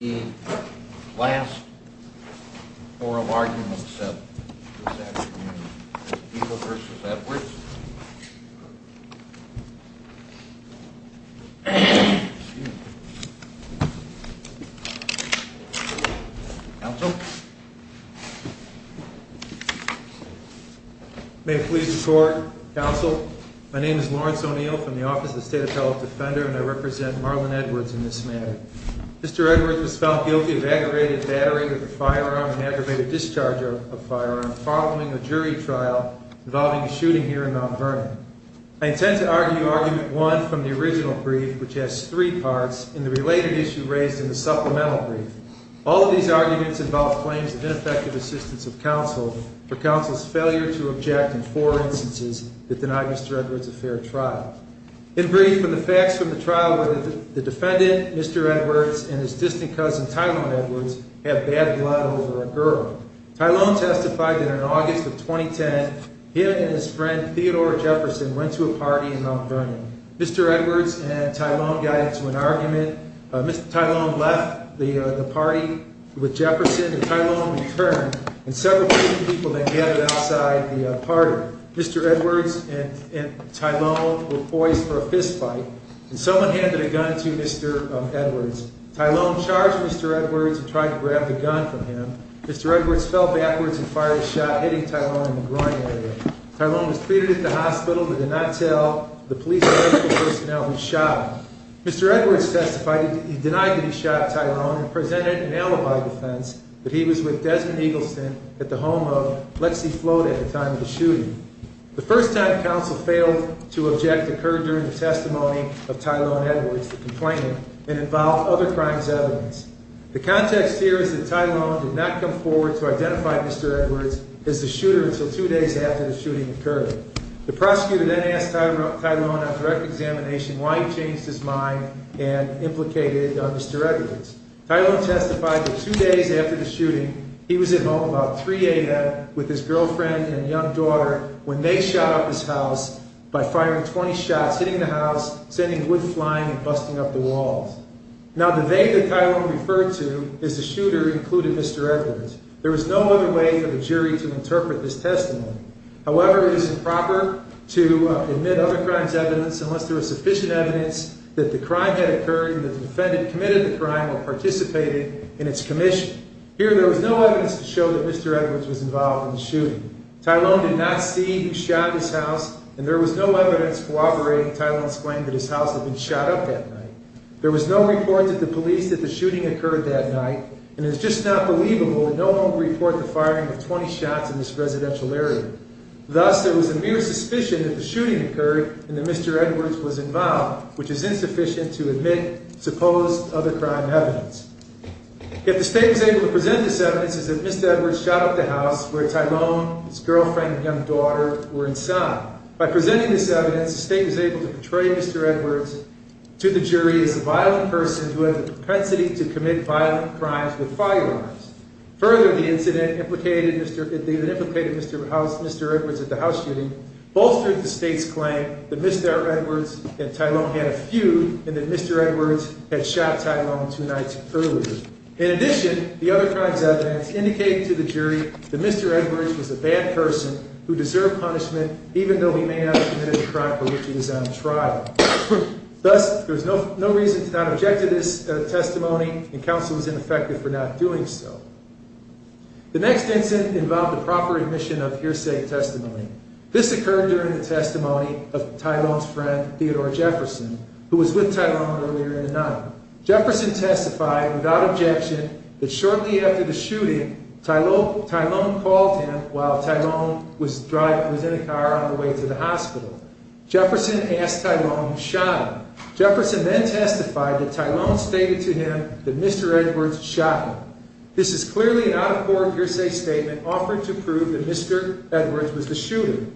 The last oral argument this afternoon is O'Neill v. Edwards. Excuse me. Counsel? May it please the Court, Counsel, my name is Lawrence O'Neill from the Office of the State Appellate Defender, and I represent Marlon Edwards in this matter. Mr. Edwards was found guilty of aggravated battery with a firearm and aggravated discharge of a firearm following a jury trial involving a shooting here in Mount Vernon. I intend to argue Argument 1 from the original brief, which has three parts, and the related issue raised in the supplemental brief. All of these arguments involve claims of ineffective assistance of counsel for counsel's failure to object in four instances that denied Mr. Edwards a fair trial. In brief, the facts from the trial were that the defendant, Mr. Edwards, and his distant cousin, Tylone Edwards, had bad blood over a girl. Tylone testified that in August of 2010, he and his friend Theodore Jefferson went to a party in Mount Vernon. Mr. Edwards and Tylone got into an argument. Mr. Tylone left the party with Jefferson, and Tylone returned, and several people then gathered outside the party. Mr. Edwards and Tylone were poised for a fistfight, and someone handed a gun to Mr. Edwards. Tylone charged Mr. Edwards and tried to grab the gun from him. Mr. Edwards fell backwards and fired a shot, hitting Tylone in the groin area. Tylone was treated at the hospital but did not tell the police and medical personnel who shot him. Mr. Edwards testified that he denied that he shot Tylone and presented an alibi defense that he was with Desmond Eagleston at the home of Lexi Float at the time of the shooting. The first time counsel failed to object occurred during the testimony of Tylone Edwards, the complainant, and involved other crimes evidence. The context here is that Tylone did not come forward to identify Mr. Edwards as the shooter until two days after the shooting occurred. The prosecutor then asked Tylone on direct examination why he changed his mind and implicated Mr. Edwards. Tylone testified that two days after the shooting, he was at home about 3 a.m. with his girlfriend and young daughter when they shot up his house by firing 20 shots, hitting the house, sending wood flying, and busting up the walls. Now the they that Tylone referred to as the shooter included Mr. Edwards. There was no other way for the jury to interpret this testimony. However, it is improper to admit other crimes evidence unless there is sufficient evidence that the crime had occurred and the defendant committed the crime or participated in its commission. Here there was no evidence to show that Mr. Edwards was involved in the shooting. Tylone did not see who shot his house, and there was no evidence corroborating Tylone's claim that his house had been shot up that night. There was no report to the police that the shooting occurred that night, and it is just not believable that no one would report the firing of 20 shots in this residential area. Thus, there was a mere suspicion that the shooting occurred and that Mr. Edwards was involved, which is insufficient to admit supposed other crime evidence. If the state was able to present this evidence, it is that Mr. Edwards shot up the house where Tylone, his girlfriend, and young daughter were inside. By presenting this evidence, the state was able to portray Mr. Edwards to the jury as a violent person who had the propensity to commit violent crimes with firearms. Further, the incident implicated Mr. Edwards at the house shooting bolstered the state's claim that Mr. Edwards and Tylone had a feud and that Mr. Edwards had shot Tylone two nights earlier. In addition, the other crime's evidence indicated to the jury that Mr. Edwards was a bad person who deserved punishment, even though he may not have committed the crime for which he was on trial. Thus, there was no reason to not object to this testimony, and counsel was ineffective for not doing so. The next incident involved the proper admission of hearsay testimony. This occurred during the testimony of Tylone's friend, Theodore Jefferson, who was with Tylone earlier in the night. Jefferson testified without objection that shortly after the shooting, Tylone called him while Tylone was in a car on the way to the hospital. Jefferson asked Tylone who shot him. Jefferson then testified that Tylone stated to him that Mr. Edwards shot him. This is clearly an out-of-court hearsay statement offered to prove that Mr. Edwards was the shooter.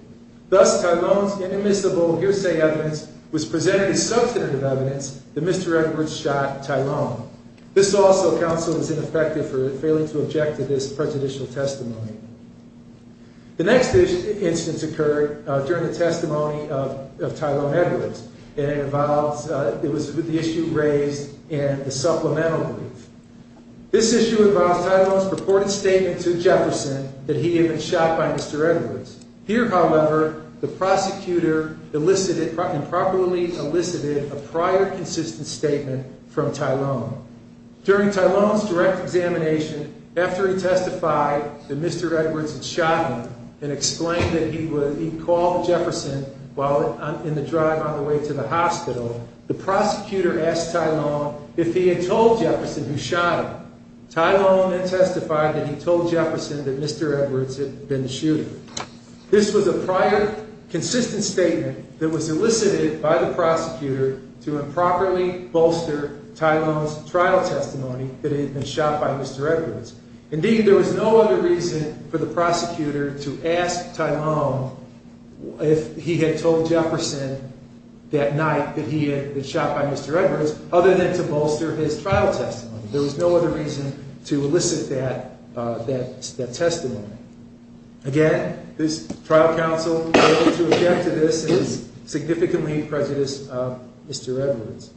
Thus, Tylone's inadmissible hearsay evidence was presented as substantive evidence that Mr. Edwards shot Tylone. This also, counsel, was ineffective for failing to object to this prejudicial testimony. The next instance occurred during the testimony of Tylone Edwards, and it was with the issue raised in the supplemental brief. This issue involved Tylone's purported statement to Jefferson that he had been shot by Mr. Edwards. Here, however, the prosecutor elicited, improperly elicited, a prior consistent statement from Tylone. During Tylone's direct examination, after he testified that Mr. Edwards had shot him and explained that he called Jefferson while in the drive on the way to the hospital, the prosecutor asked Tylone if he had told Jefferson who shot him. Tylone then testified that he told Jefferson that Mr. Edwards had been the shooter. This was a prior consistent statement that was elicited by the prosecutor to improperly bolster Tylone's trial testimony that he had been shot by Mr. Edwards. Indeed, there was no other reason for the prosecutor to ask Tylone if he had told Jefferson that night that he had been shot by Mr. Edwards other than to bolster his trial testimony. There was no other reason to elicit that testimony. Again, this trial counsel failing to object to this is significantly prejudiced of Mr. Edwards.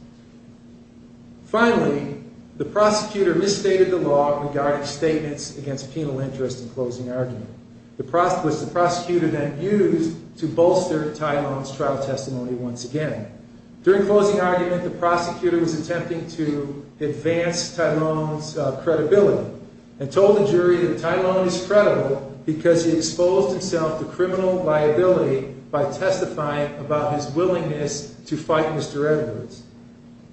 Finally, the prosecutor misstated the law regarding statements against penal interest in closing argument, which the prosecutor then used to bolster Tylone's trial testimony once again. During closing argument, the prosecutor was attempting to advance Tylone's credibility and told the jury that Tylone is credible because he exposed himself to criminal liability by testifying about his willingness to fight Mr. Edwards.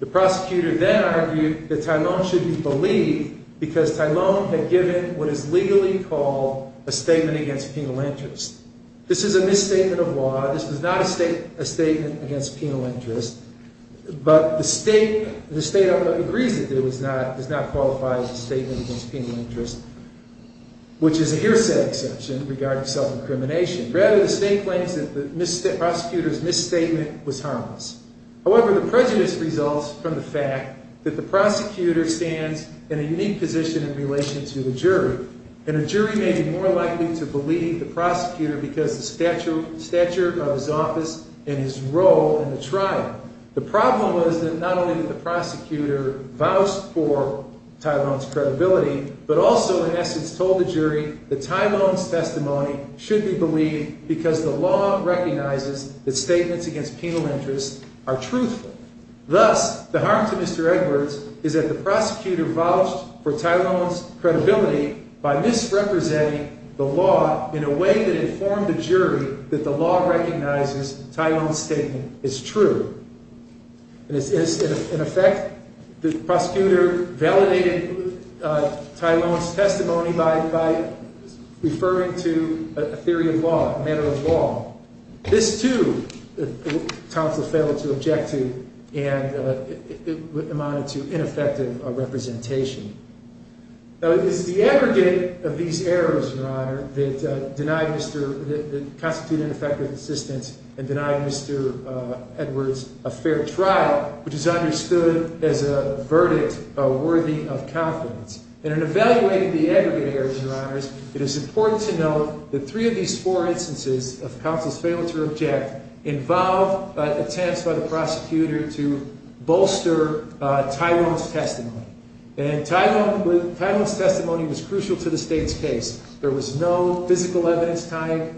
The prosecutor then argued that Tylone should be believed because Tylone had given what is legally called a statement against penal interest. This is a misstatement of law. This is not a statement against penal interest. But the state agrees that it does not qualify as a statement against penal interest, which is a hearsay exception regarding self-incrimination. Rather, the state claims that the prosecutor's misstatement was harmless. However, the prejudice results from the fact that the prosecutor stands in a unique position in relation to the jury. And a jury may be more likely to believe the prosecutor because of the stature of his office and his role in the trial. The problem is that not only did the prosecutor vouch for Tylone's credibility, but also, in essence, told the jury that Tylone's testimony should be believed because the law recognizes that statements against penal interest are truthful. Thus, the harm to Mr. Edwards is that the prosecutor vouched for Tylone's credibility by misrepresenting the law in a way that informed the jury that the law recognizes Tylone's statement is true. In effect, the prosecutor validated Tylone's testimony by referring to a theory of law, a matter of law. This too, counsel failed to object to and amounted to ineffective representation. Now, it is the aggregate of these errors, Your Honor, that constitute ineffective assistance and deny Mr. Edwards a fair trial, which is understood as a verdict worthy of confidence. And in evaluating the aggregate errors, Your Honors, it is important to note that three of these four instances of counsel's failure to object involved attempts by the prosecutor to bolster Tylone's testimony. And Tylone's testimony was crucial to the state's case. There was no physical evidence tying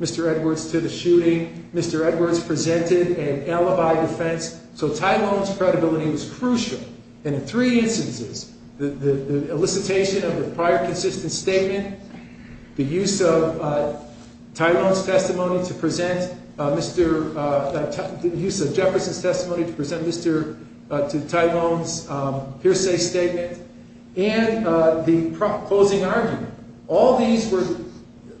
Mr. Edwards to the shooting. Mr. Edwards presented an alibi defense. So Tylone's credibility was crucial. And in three instances, the elicitation of the prior consistent statement, the use of Jefferson's testimony to present to Tylone's hearsay statement, and the closing argument. All these were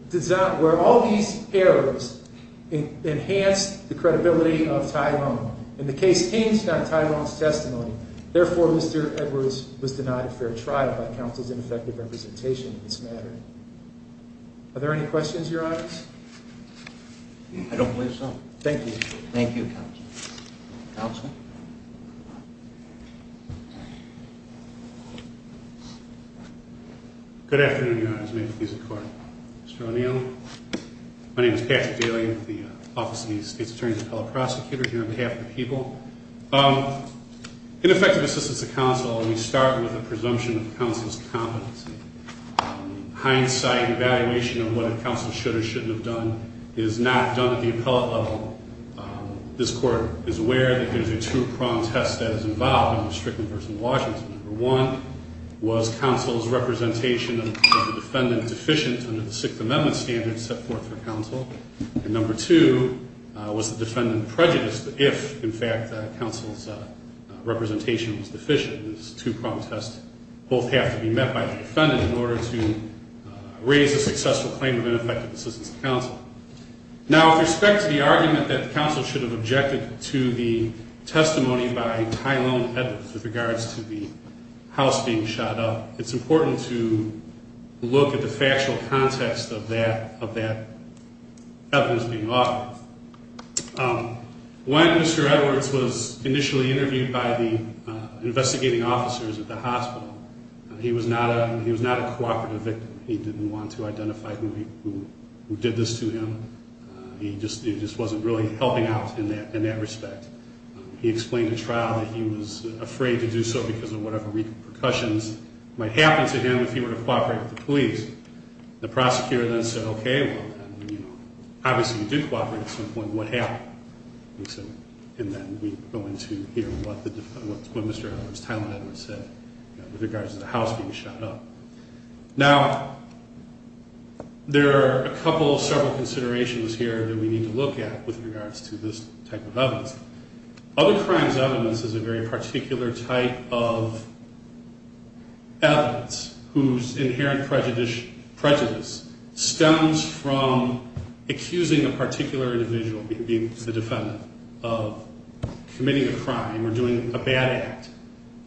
designed where all these errors enhanced the credibility of Tylone. And the case changed on Tylone's testimony. Therefore, Mr. Edwards was denied a fair trial by counsel's ineffective representation in this matter. Are there any questions, Your Honors? I don't believe so. Thank you. Thank you, counsel. Counsel? Good afternoon, Your Honors. May it please the Court. Mr. O'Neill. My name is Patrick Daly. I'm with the Office of the State's Attorney's Appellate Prosecutor here on behalf of the people. In effective assistance to counsel, we start with a presumption of counsel's competency. Hindsight and evaluation of what counsel should or shouldn't have done is not done at the appellate level. This Court is aware that there's a two-pronged test that is involved in the stricken person of Washington. Number one, was counsel's representation of the defendant deficient under the Sixth Amendment standards set forth for counsel? And number two, was the defendant prejudiced if, in fact, counsel's representation was deficient? These two-pronged tests both have to be met by the defendant in order to raise a successful claim of ineffective assistance to counsel. Now, with respect to the argument that counsel should have objected to the testimony by Tylone Edwards with regards to the house being shot up, it's important to look at the factual context of that evidence being offered. When Mr. Edwards was initially interviewed by the investigating officers at the hospital, he was not a cooperative victim. He didn't want to identify who did this to him. He just wasn't really helping out in that respect. He explained to trial that he was afraid to do so because of whatever repercussions might happen to him if he were to cooperate with the police. The prosecutor then said, okay, well, obviously you did cooperate at some point. What happened? And then we go into here what Mr. Edwards, Tylone Edwards, said with regards to the house being shot up. Now, there are a couple of several considerations here that we need to look at with regards to this type of evidence. Other crimes evidence is a very particular type of evidence whose inherent prejudice stems from accusing a particular individual, being the defendant, of committing a crime or doing a bad act,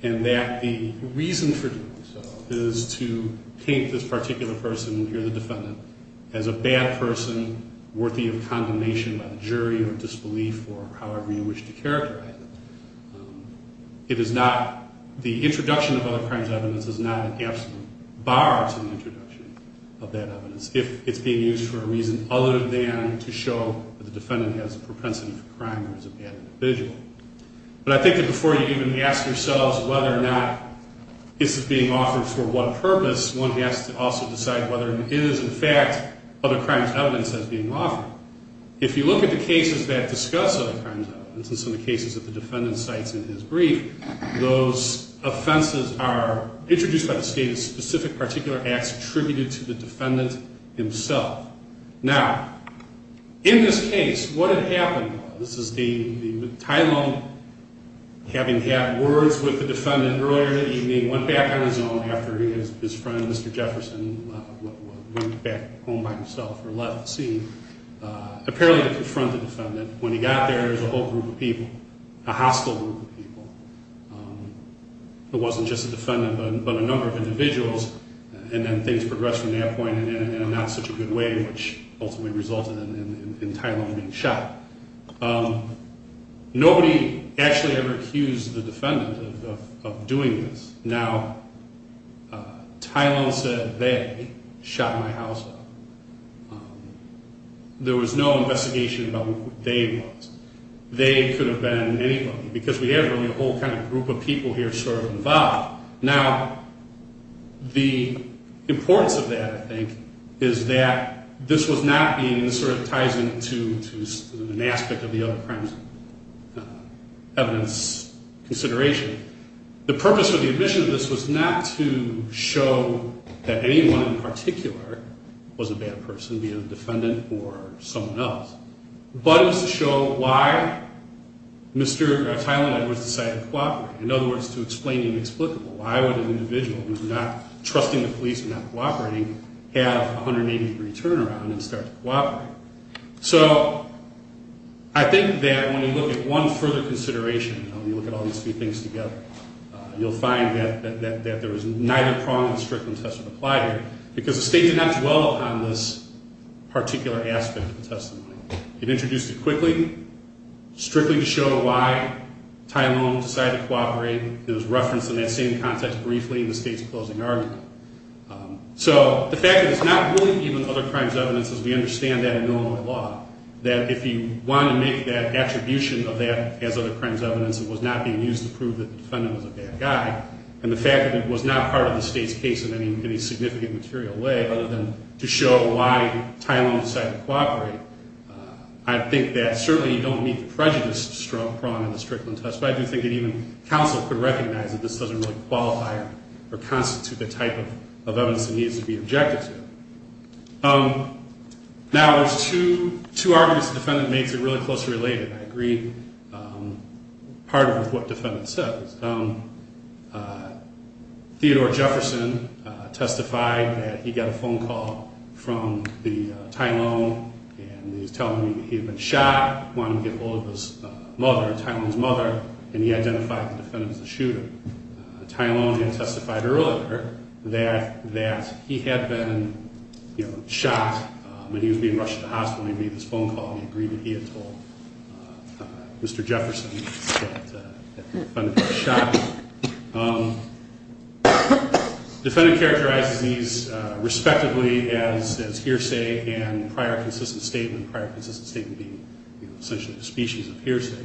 and that the reason for doing so is to paint this particular person here, the defendant, as a bad person worthy of condemnation by the jury or disbelief or however you wish to characterize it. It is not the introduction of other crimes evidence is not an absolute bar to the introduction of that evidence if it's being used for a reason other than to show that the defendant has a propensity for crime or is a bad individual. But I think that before you even ask yourselves whether or not this is being offered for what purpose, one has to also decide whether it is, in fact, other crimes evidence that's being offered. If you look at the cases that discuss other crimes evidence, in some of the cases that the defendant cites in his brief, those offenses are introduced by the state as specific particular acts attributed to the defendant himself. Now, in this case, what had happened, this is the Tylenol having had words with the defendant earlier in the evening, went back on his own after his friend, Mr. Jefferson, went back home by himself or left the scene, apparently to confront the defendant. When he got there, there was a whole group of people, a hostile group of people. It wasn't just the defendant, but a number of individuals, and then things progressed from that point in a not such a good way, which ultimately resulted in Tylenol being shot. Nobody actually ever accused the defendant of doing this. Now, Tylenol said they shot my house off. There was no investigation about who they was. They could have been anybody, because we had really a whole kind of group of people here sort of involved. Now, the importance of that, I think, is that this was not being sort of ties into an aspect of the other crimes evidence consideration. The purpose of the admission of this was not to show that anyone in particular was a bad person, be it a defendant or someone else, but it was to show why Mr. Tylenol had decided to cooperate. In other words, to explain the inexplicable. Why would an individual who's not trusting the police and not cooperating have a 180-degree turnaround and start to cooperate? So I think that when you look at one further consideration, when you look at all these three things together, you'll find that there was neither prong of the Strickland test that applied here, because the state did not dwell on this particular aspect of the testimony. It introduced it quickly, strictly to show why Tylenol decided to cooperate. It was referenced in that same context briefly in the state's closing argument. So the fact that it's not really even other crimes evidence, as we understand that in Illinois law, that if you want to make that attribution of that as other crimes evidence, it was not being used to prove that the defendant was a bad guy, and the fact that it was not part of the state's case in any significant material way, other than to show why Tylenol decided to cooperate, I think that certainly you don't meet the prejudice prong in the Strickland test, but I do think that even counsel could recognize that this doesn't really qualify or constitute the type of evidence that needs to be objected to. Now, there's two arguments the defendant makes that are really closely related, and I agree partly with what the defendant says. Theodore Jefferson testified that he got a phone call from Tylenol, and he was telling me that he had been shot, wanted to get a hold of his mother, Tylenol's mother, and he identified the defendant as the shooter. Tylenol had testified earlier that he had been shot when he was being rushed to the hospital. He agreed that he had told Mr. Jefferson that the defendant was shot. The defendant characterizes these respectively as hearsay and prior consistent statement, prior consistent statement being essentially the species of hearsay.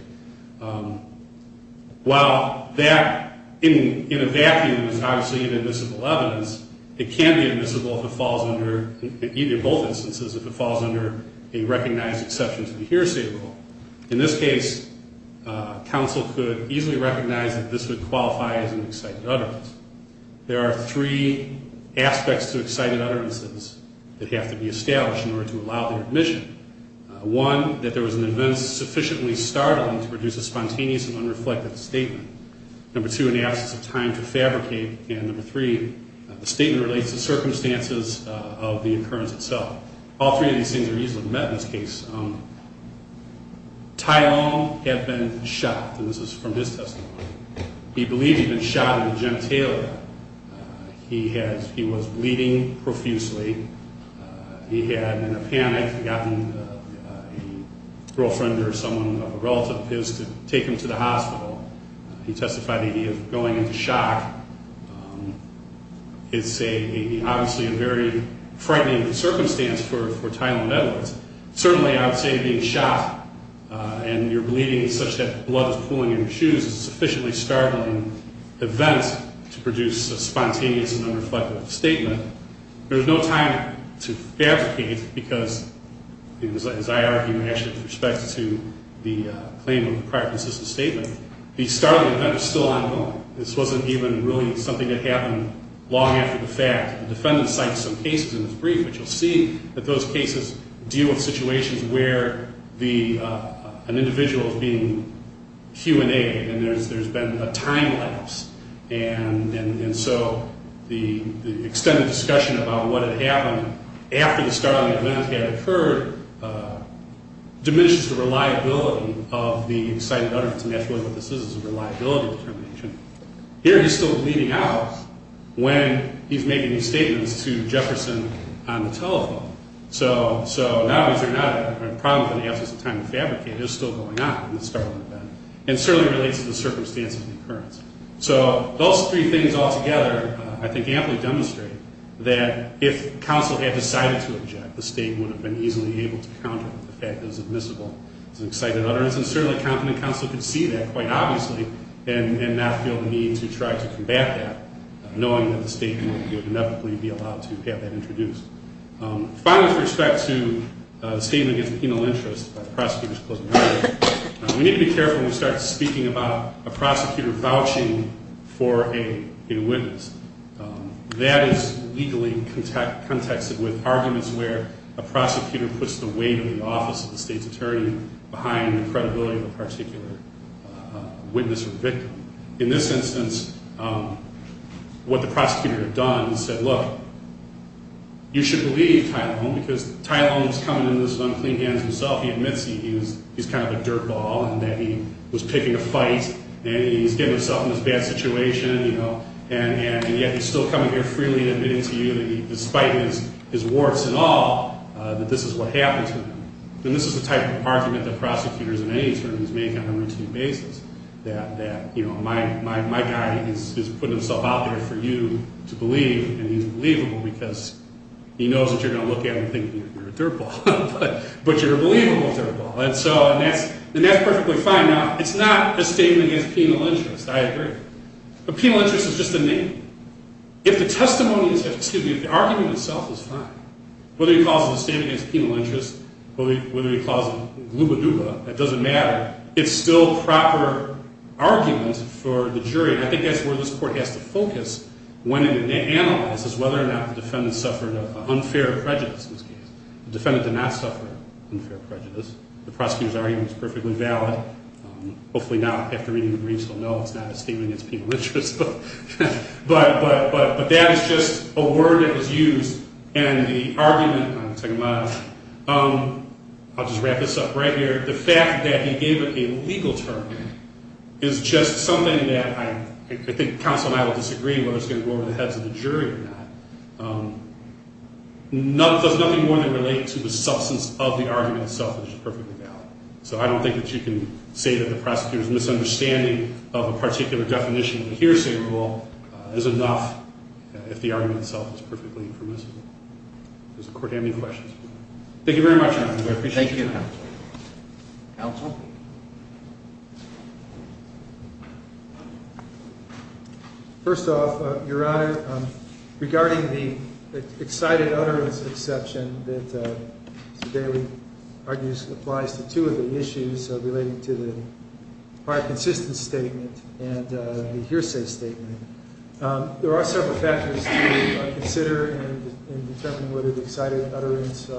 While that, in a vacuum, is obviously inadmissible evidence, it can be admissible in either of both instances if it falls under a recognized exception to the hearsay rule. In this case, counsel could easily recognize that this would qualify as an excited utterance. There are three aspects to excited utterances that have to be established in order to allow their admission. One, that there was an event sufficiently startling to produce a spontaneous and unreflective statement. Number two, an absence of time to fabricate. And number three, the statement relates to circumstances of the occurrence itself. All three of these things are easily met in this case. Tylenol had been shot, and this is from his testimony. He believed he had been shot at a Jim Taylor. He was bleeding profusely. He had, in a panic, gotten a girlfriend or someone of a relative of his to take him to the hospital. He testified that he was going into shock. It's obviously a very frightening circumstance for Tylenol meddlers. Certainly, I would say being shot and you're bleeding such that blood is pooling in your shoes is a sufficiently startling event to produce a spontaneous and unreflective statement. And there's no time to fabricate because, as I argue actually with respect to the claim of the prior consistent statement, the startling event is still ongoing. This wasn't even really something that happened long after the fact. The defendant cited some cases in his brief, but you'll see that those cases deal with situations where an individual is being Q&A'd and there's been a time lapse. And so the extended discussion about what had happened after the startling event had occurred diminishes the reliability of the cited utterance. And that's really what this is, is a reliability determination. Here, he's still bleeding out when he's making these statements to Jefferson on the telephone. So, now, these are not problems in the absence of time to fabricate. It's still going on in the startling event. And it certainly relates to the circumstances of the occurrence. So those three things all together, I think, amply demonstrate that if counsel had decided to object, the statement would have been easily able to counter the fact that it was admissible. It's an excited utterance, and certainly a competent counsel could see that, quite obviously, and not feel the need to try to combat that, knowing that the statement would inevitably be allowed to have that introduced. Finally, with respect to the statement against the penal interest by the prosecutor's closing argument, we need to be careful when we start speaking about a prosecutor vouching for a witness. That is legally contexted with arguments where a prosecutor puts the weight of the office of the state's attorney behind the credibility of a particular witness or victim. In this instance, what the prosecutor had done is said, Look, you should believe Ty Lone, because Ty Lone is coming into this with unclean hands himself. He admits he's kind of a dirtball, and that he was picking a fight, and he's getting himself in this bad situation, and yet he's still coming here freely and admitting to you, despite his warts and all, that this is what happened to him. And this is the type of argument that prosecutors in any attorney's make on a routine basis, that my guy is putting himself out there for you to believe, and he's believable, because he knows that you're going to look at him thinking you're a dirtball, but you're a believable dirtball. And that's perfectly fine. Now, it's not a statement against penal interest. I agree. But penal interest is just a name. If the argument itself is fine, whether you call it a statement against penal interest, whether you call it gluba-duba, it doesn't matter. It's still proper argument for the jury. I think that's where this court has to focus when it analyzes whether or not the defendant suffered an unfair prejudice in this case. The defendant did not suffer unfair prejudice. The prosecutor's argument is perfectly valid. Hopefully now, after reading the briefs, you'll know it's not a statement against penal interest. But that is just a word that was used. And the argument, I'll just wrap this up right here. The fact that he gave it a legal term is just something that I think counsel and I will disagree whether it's going to go over the heads of the jury or not. It does nothing more than relate to the substance of the argument itself, which is perfectly valid. So I don't think that you can say that the prosecutor's misunderstanding of a particular definition of a hearsay rule is enough if the argument itself is perfectly permissible. Does the court have any questions? Thank you very much, Your Honor. I appreciate it. Thank you. Counsel? First off, Your Honor, regarding the excited utterance exception that Mr. Daley argues applies to two of the issues relating to the prior consistence statement and the hearsay statement, there are several factors to consider in determining whether the excited utterance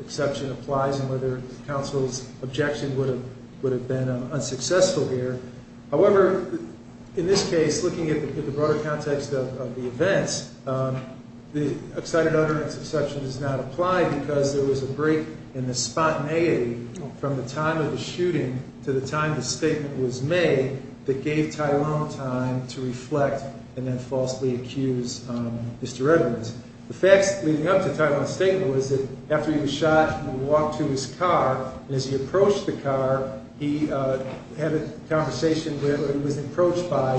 exception applies and whether counsel's objection would have been unsuccessful here. However, in this case, looking at the broader context of the events, the excited utterance exception does not apply because there was a break in the spontaneity from the time of the shooting to the time the statement was made that gave Tyrone time to reflect and then falsely accuse Mr. Edwards. The facts leading up to Tyrone's statement was that after he was shot, he walked to his car, and as he approached the car, he had a conversation where he was approached by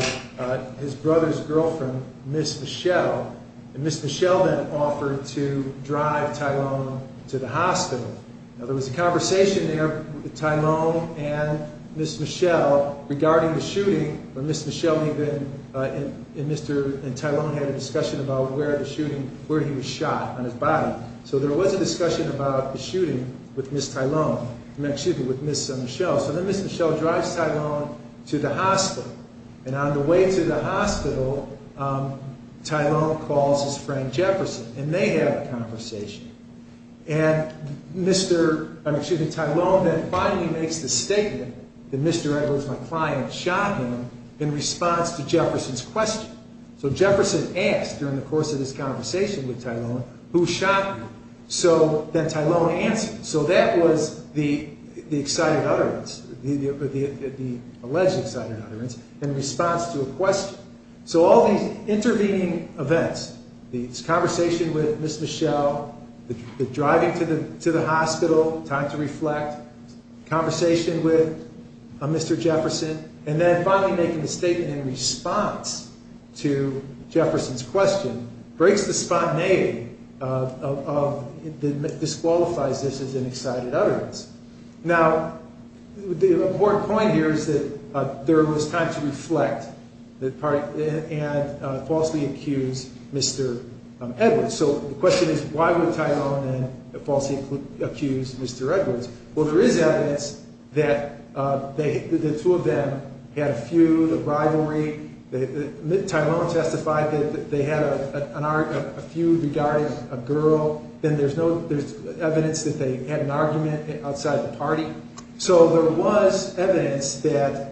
his brother's girlfriend, Miss Michelle, and Miss Michelle then offered to drive Tyrone to the hospital. Now, there was a conversation there with Tyrone and Miss Michelle regarding the shooting where Miss Michelle and Tyrone had a discussion about where he was shot on his body. So there was a discussion about the shooting with Miss Michelle. So then Miss Michelle drives Tyrone to the hospital, and on the way to the hospital, Tyrone calls his friend Jefferson, and they have a conversation. And Tyrone then finally makes the statement that Mr. Edwards, my client, shot him in response to Jefferson's question. So Jefferson asked during the course of this conversation with Tyrone, who shot you? So then Tyrone answered. So that was the alleged excited utterance in response to a question. So all these intervening events, this conversation with Miss Michelle, the driving to the hospital, time to reflect, conversation with Mr. Jefferson, and then finally making the statement in response to Jefferson's question, breaks the spontaneity that disqualifies this as an excited utterance. Now, the important point here is that there was time to reflect and falsely accuse Mr. Edwards. So the question is why would Tyrone then falsely accuse Mr. Edwards? Well, there is evidence that the two of them had a feud, a rivalry. Tyrone testified that they had a feud regarding a girl. Then there's evidence that they had an argument outside the party. So there was evidence that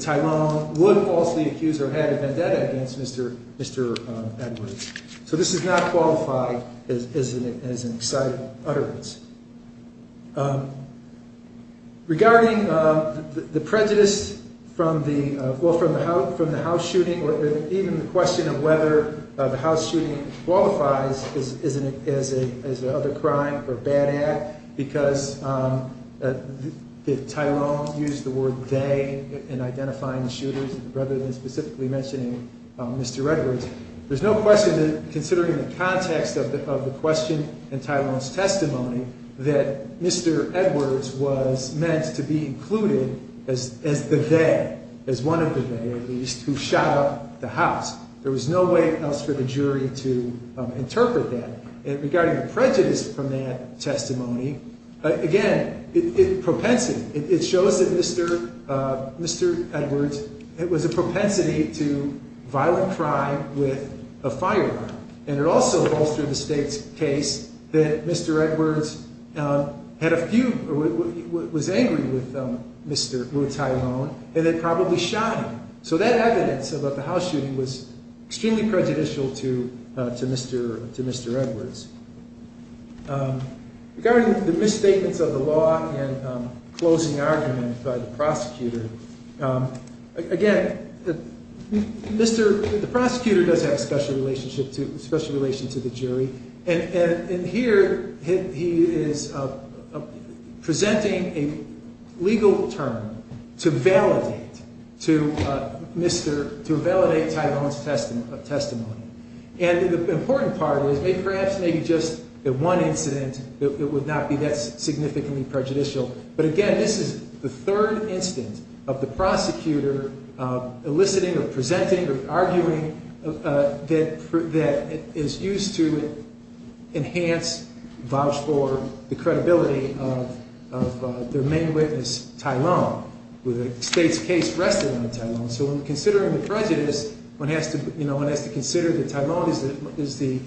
Tyrone would falsely accuse or had a vendetta against Mr. Edwards. So this does not qualify as an excited utterance. Regarding the prejudice from the house shooting or even the question of whether the house shooting qualifies as an other crime or bad act, because Tyrone used the word they in identifying the shooters rather than specifically mentioning Mr. Edwards, there's no question that considering the context of the question and Tyrone's testimony that Mr. Edwards was meant to be included as the they, as one of the they, at least, who shot up the house. There was no way else for the jury to interpret that. And regarding the prejudice from that testimony, again, it propensity. It shows that Mr. Mr. Edwards, it was a propensity to violent crime with a firearm. And it also goes through the state's case that Mr. Edwards had a few, was angry with Mr. Tyrone and then probably shot him. So that evidence about the house shooting was extremely prejudicial to Mr. to Mr. Edwards. Regarding the misstatements of the law and closing argument by the prosecutor, again, Mr. The prosecutor does have a special relationship to special relation to the jury. And here he is presenting a legal term to validate to Mr. To validate Tyrone's testimony. And the important part is maybe perhaps maybe just the one incident that would not be that significantly prejudicial. But again, this is the third instance of the prosecutor eliciting or presenting or arguing that that is used to. Enhance vouch for the credibility of their main witness Tyrone with the state's case rested on Tyrone. So when considering the prejudice, one has to, you know, one has to consider that Tyrone is the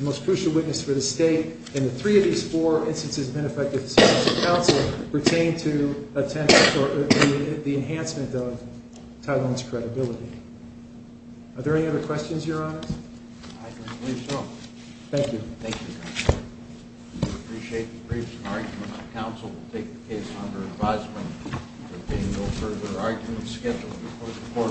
most crucial witness for the state. And the three of these four instances of ineffective counsel pertain to the enhancement of Tyrone's credibility. Are there any other questions, Your Honor? Thank you. Appreciate the briefs and arguments. Counsel will take the case under advisement. There will be no further arguments scheduled before the court will adjourn. All rise.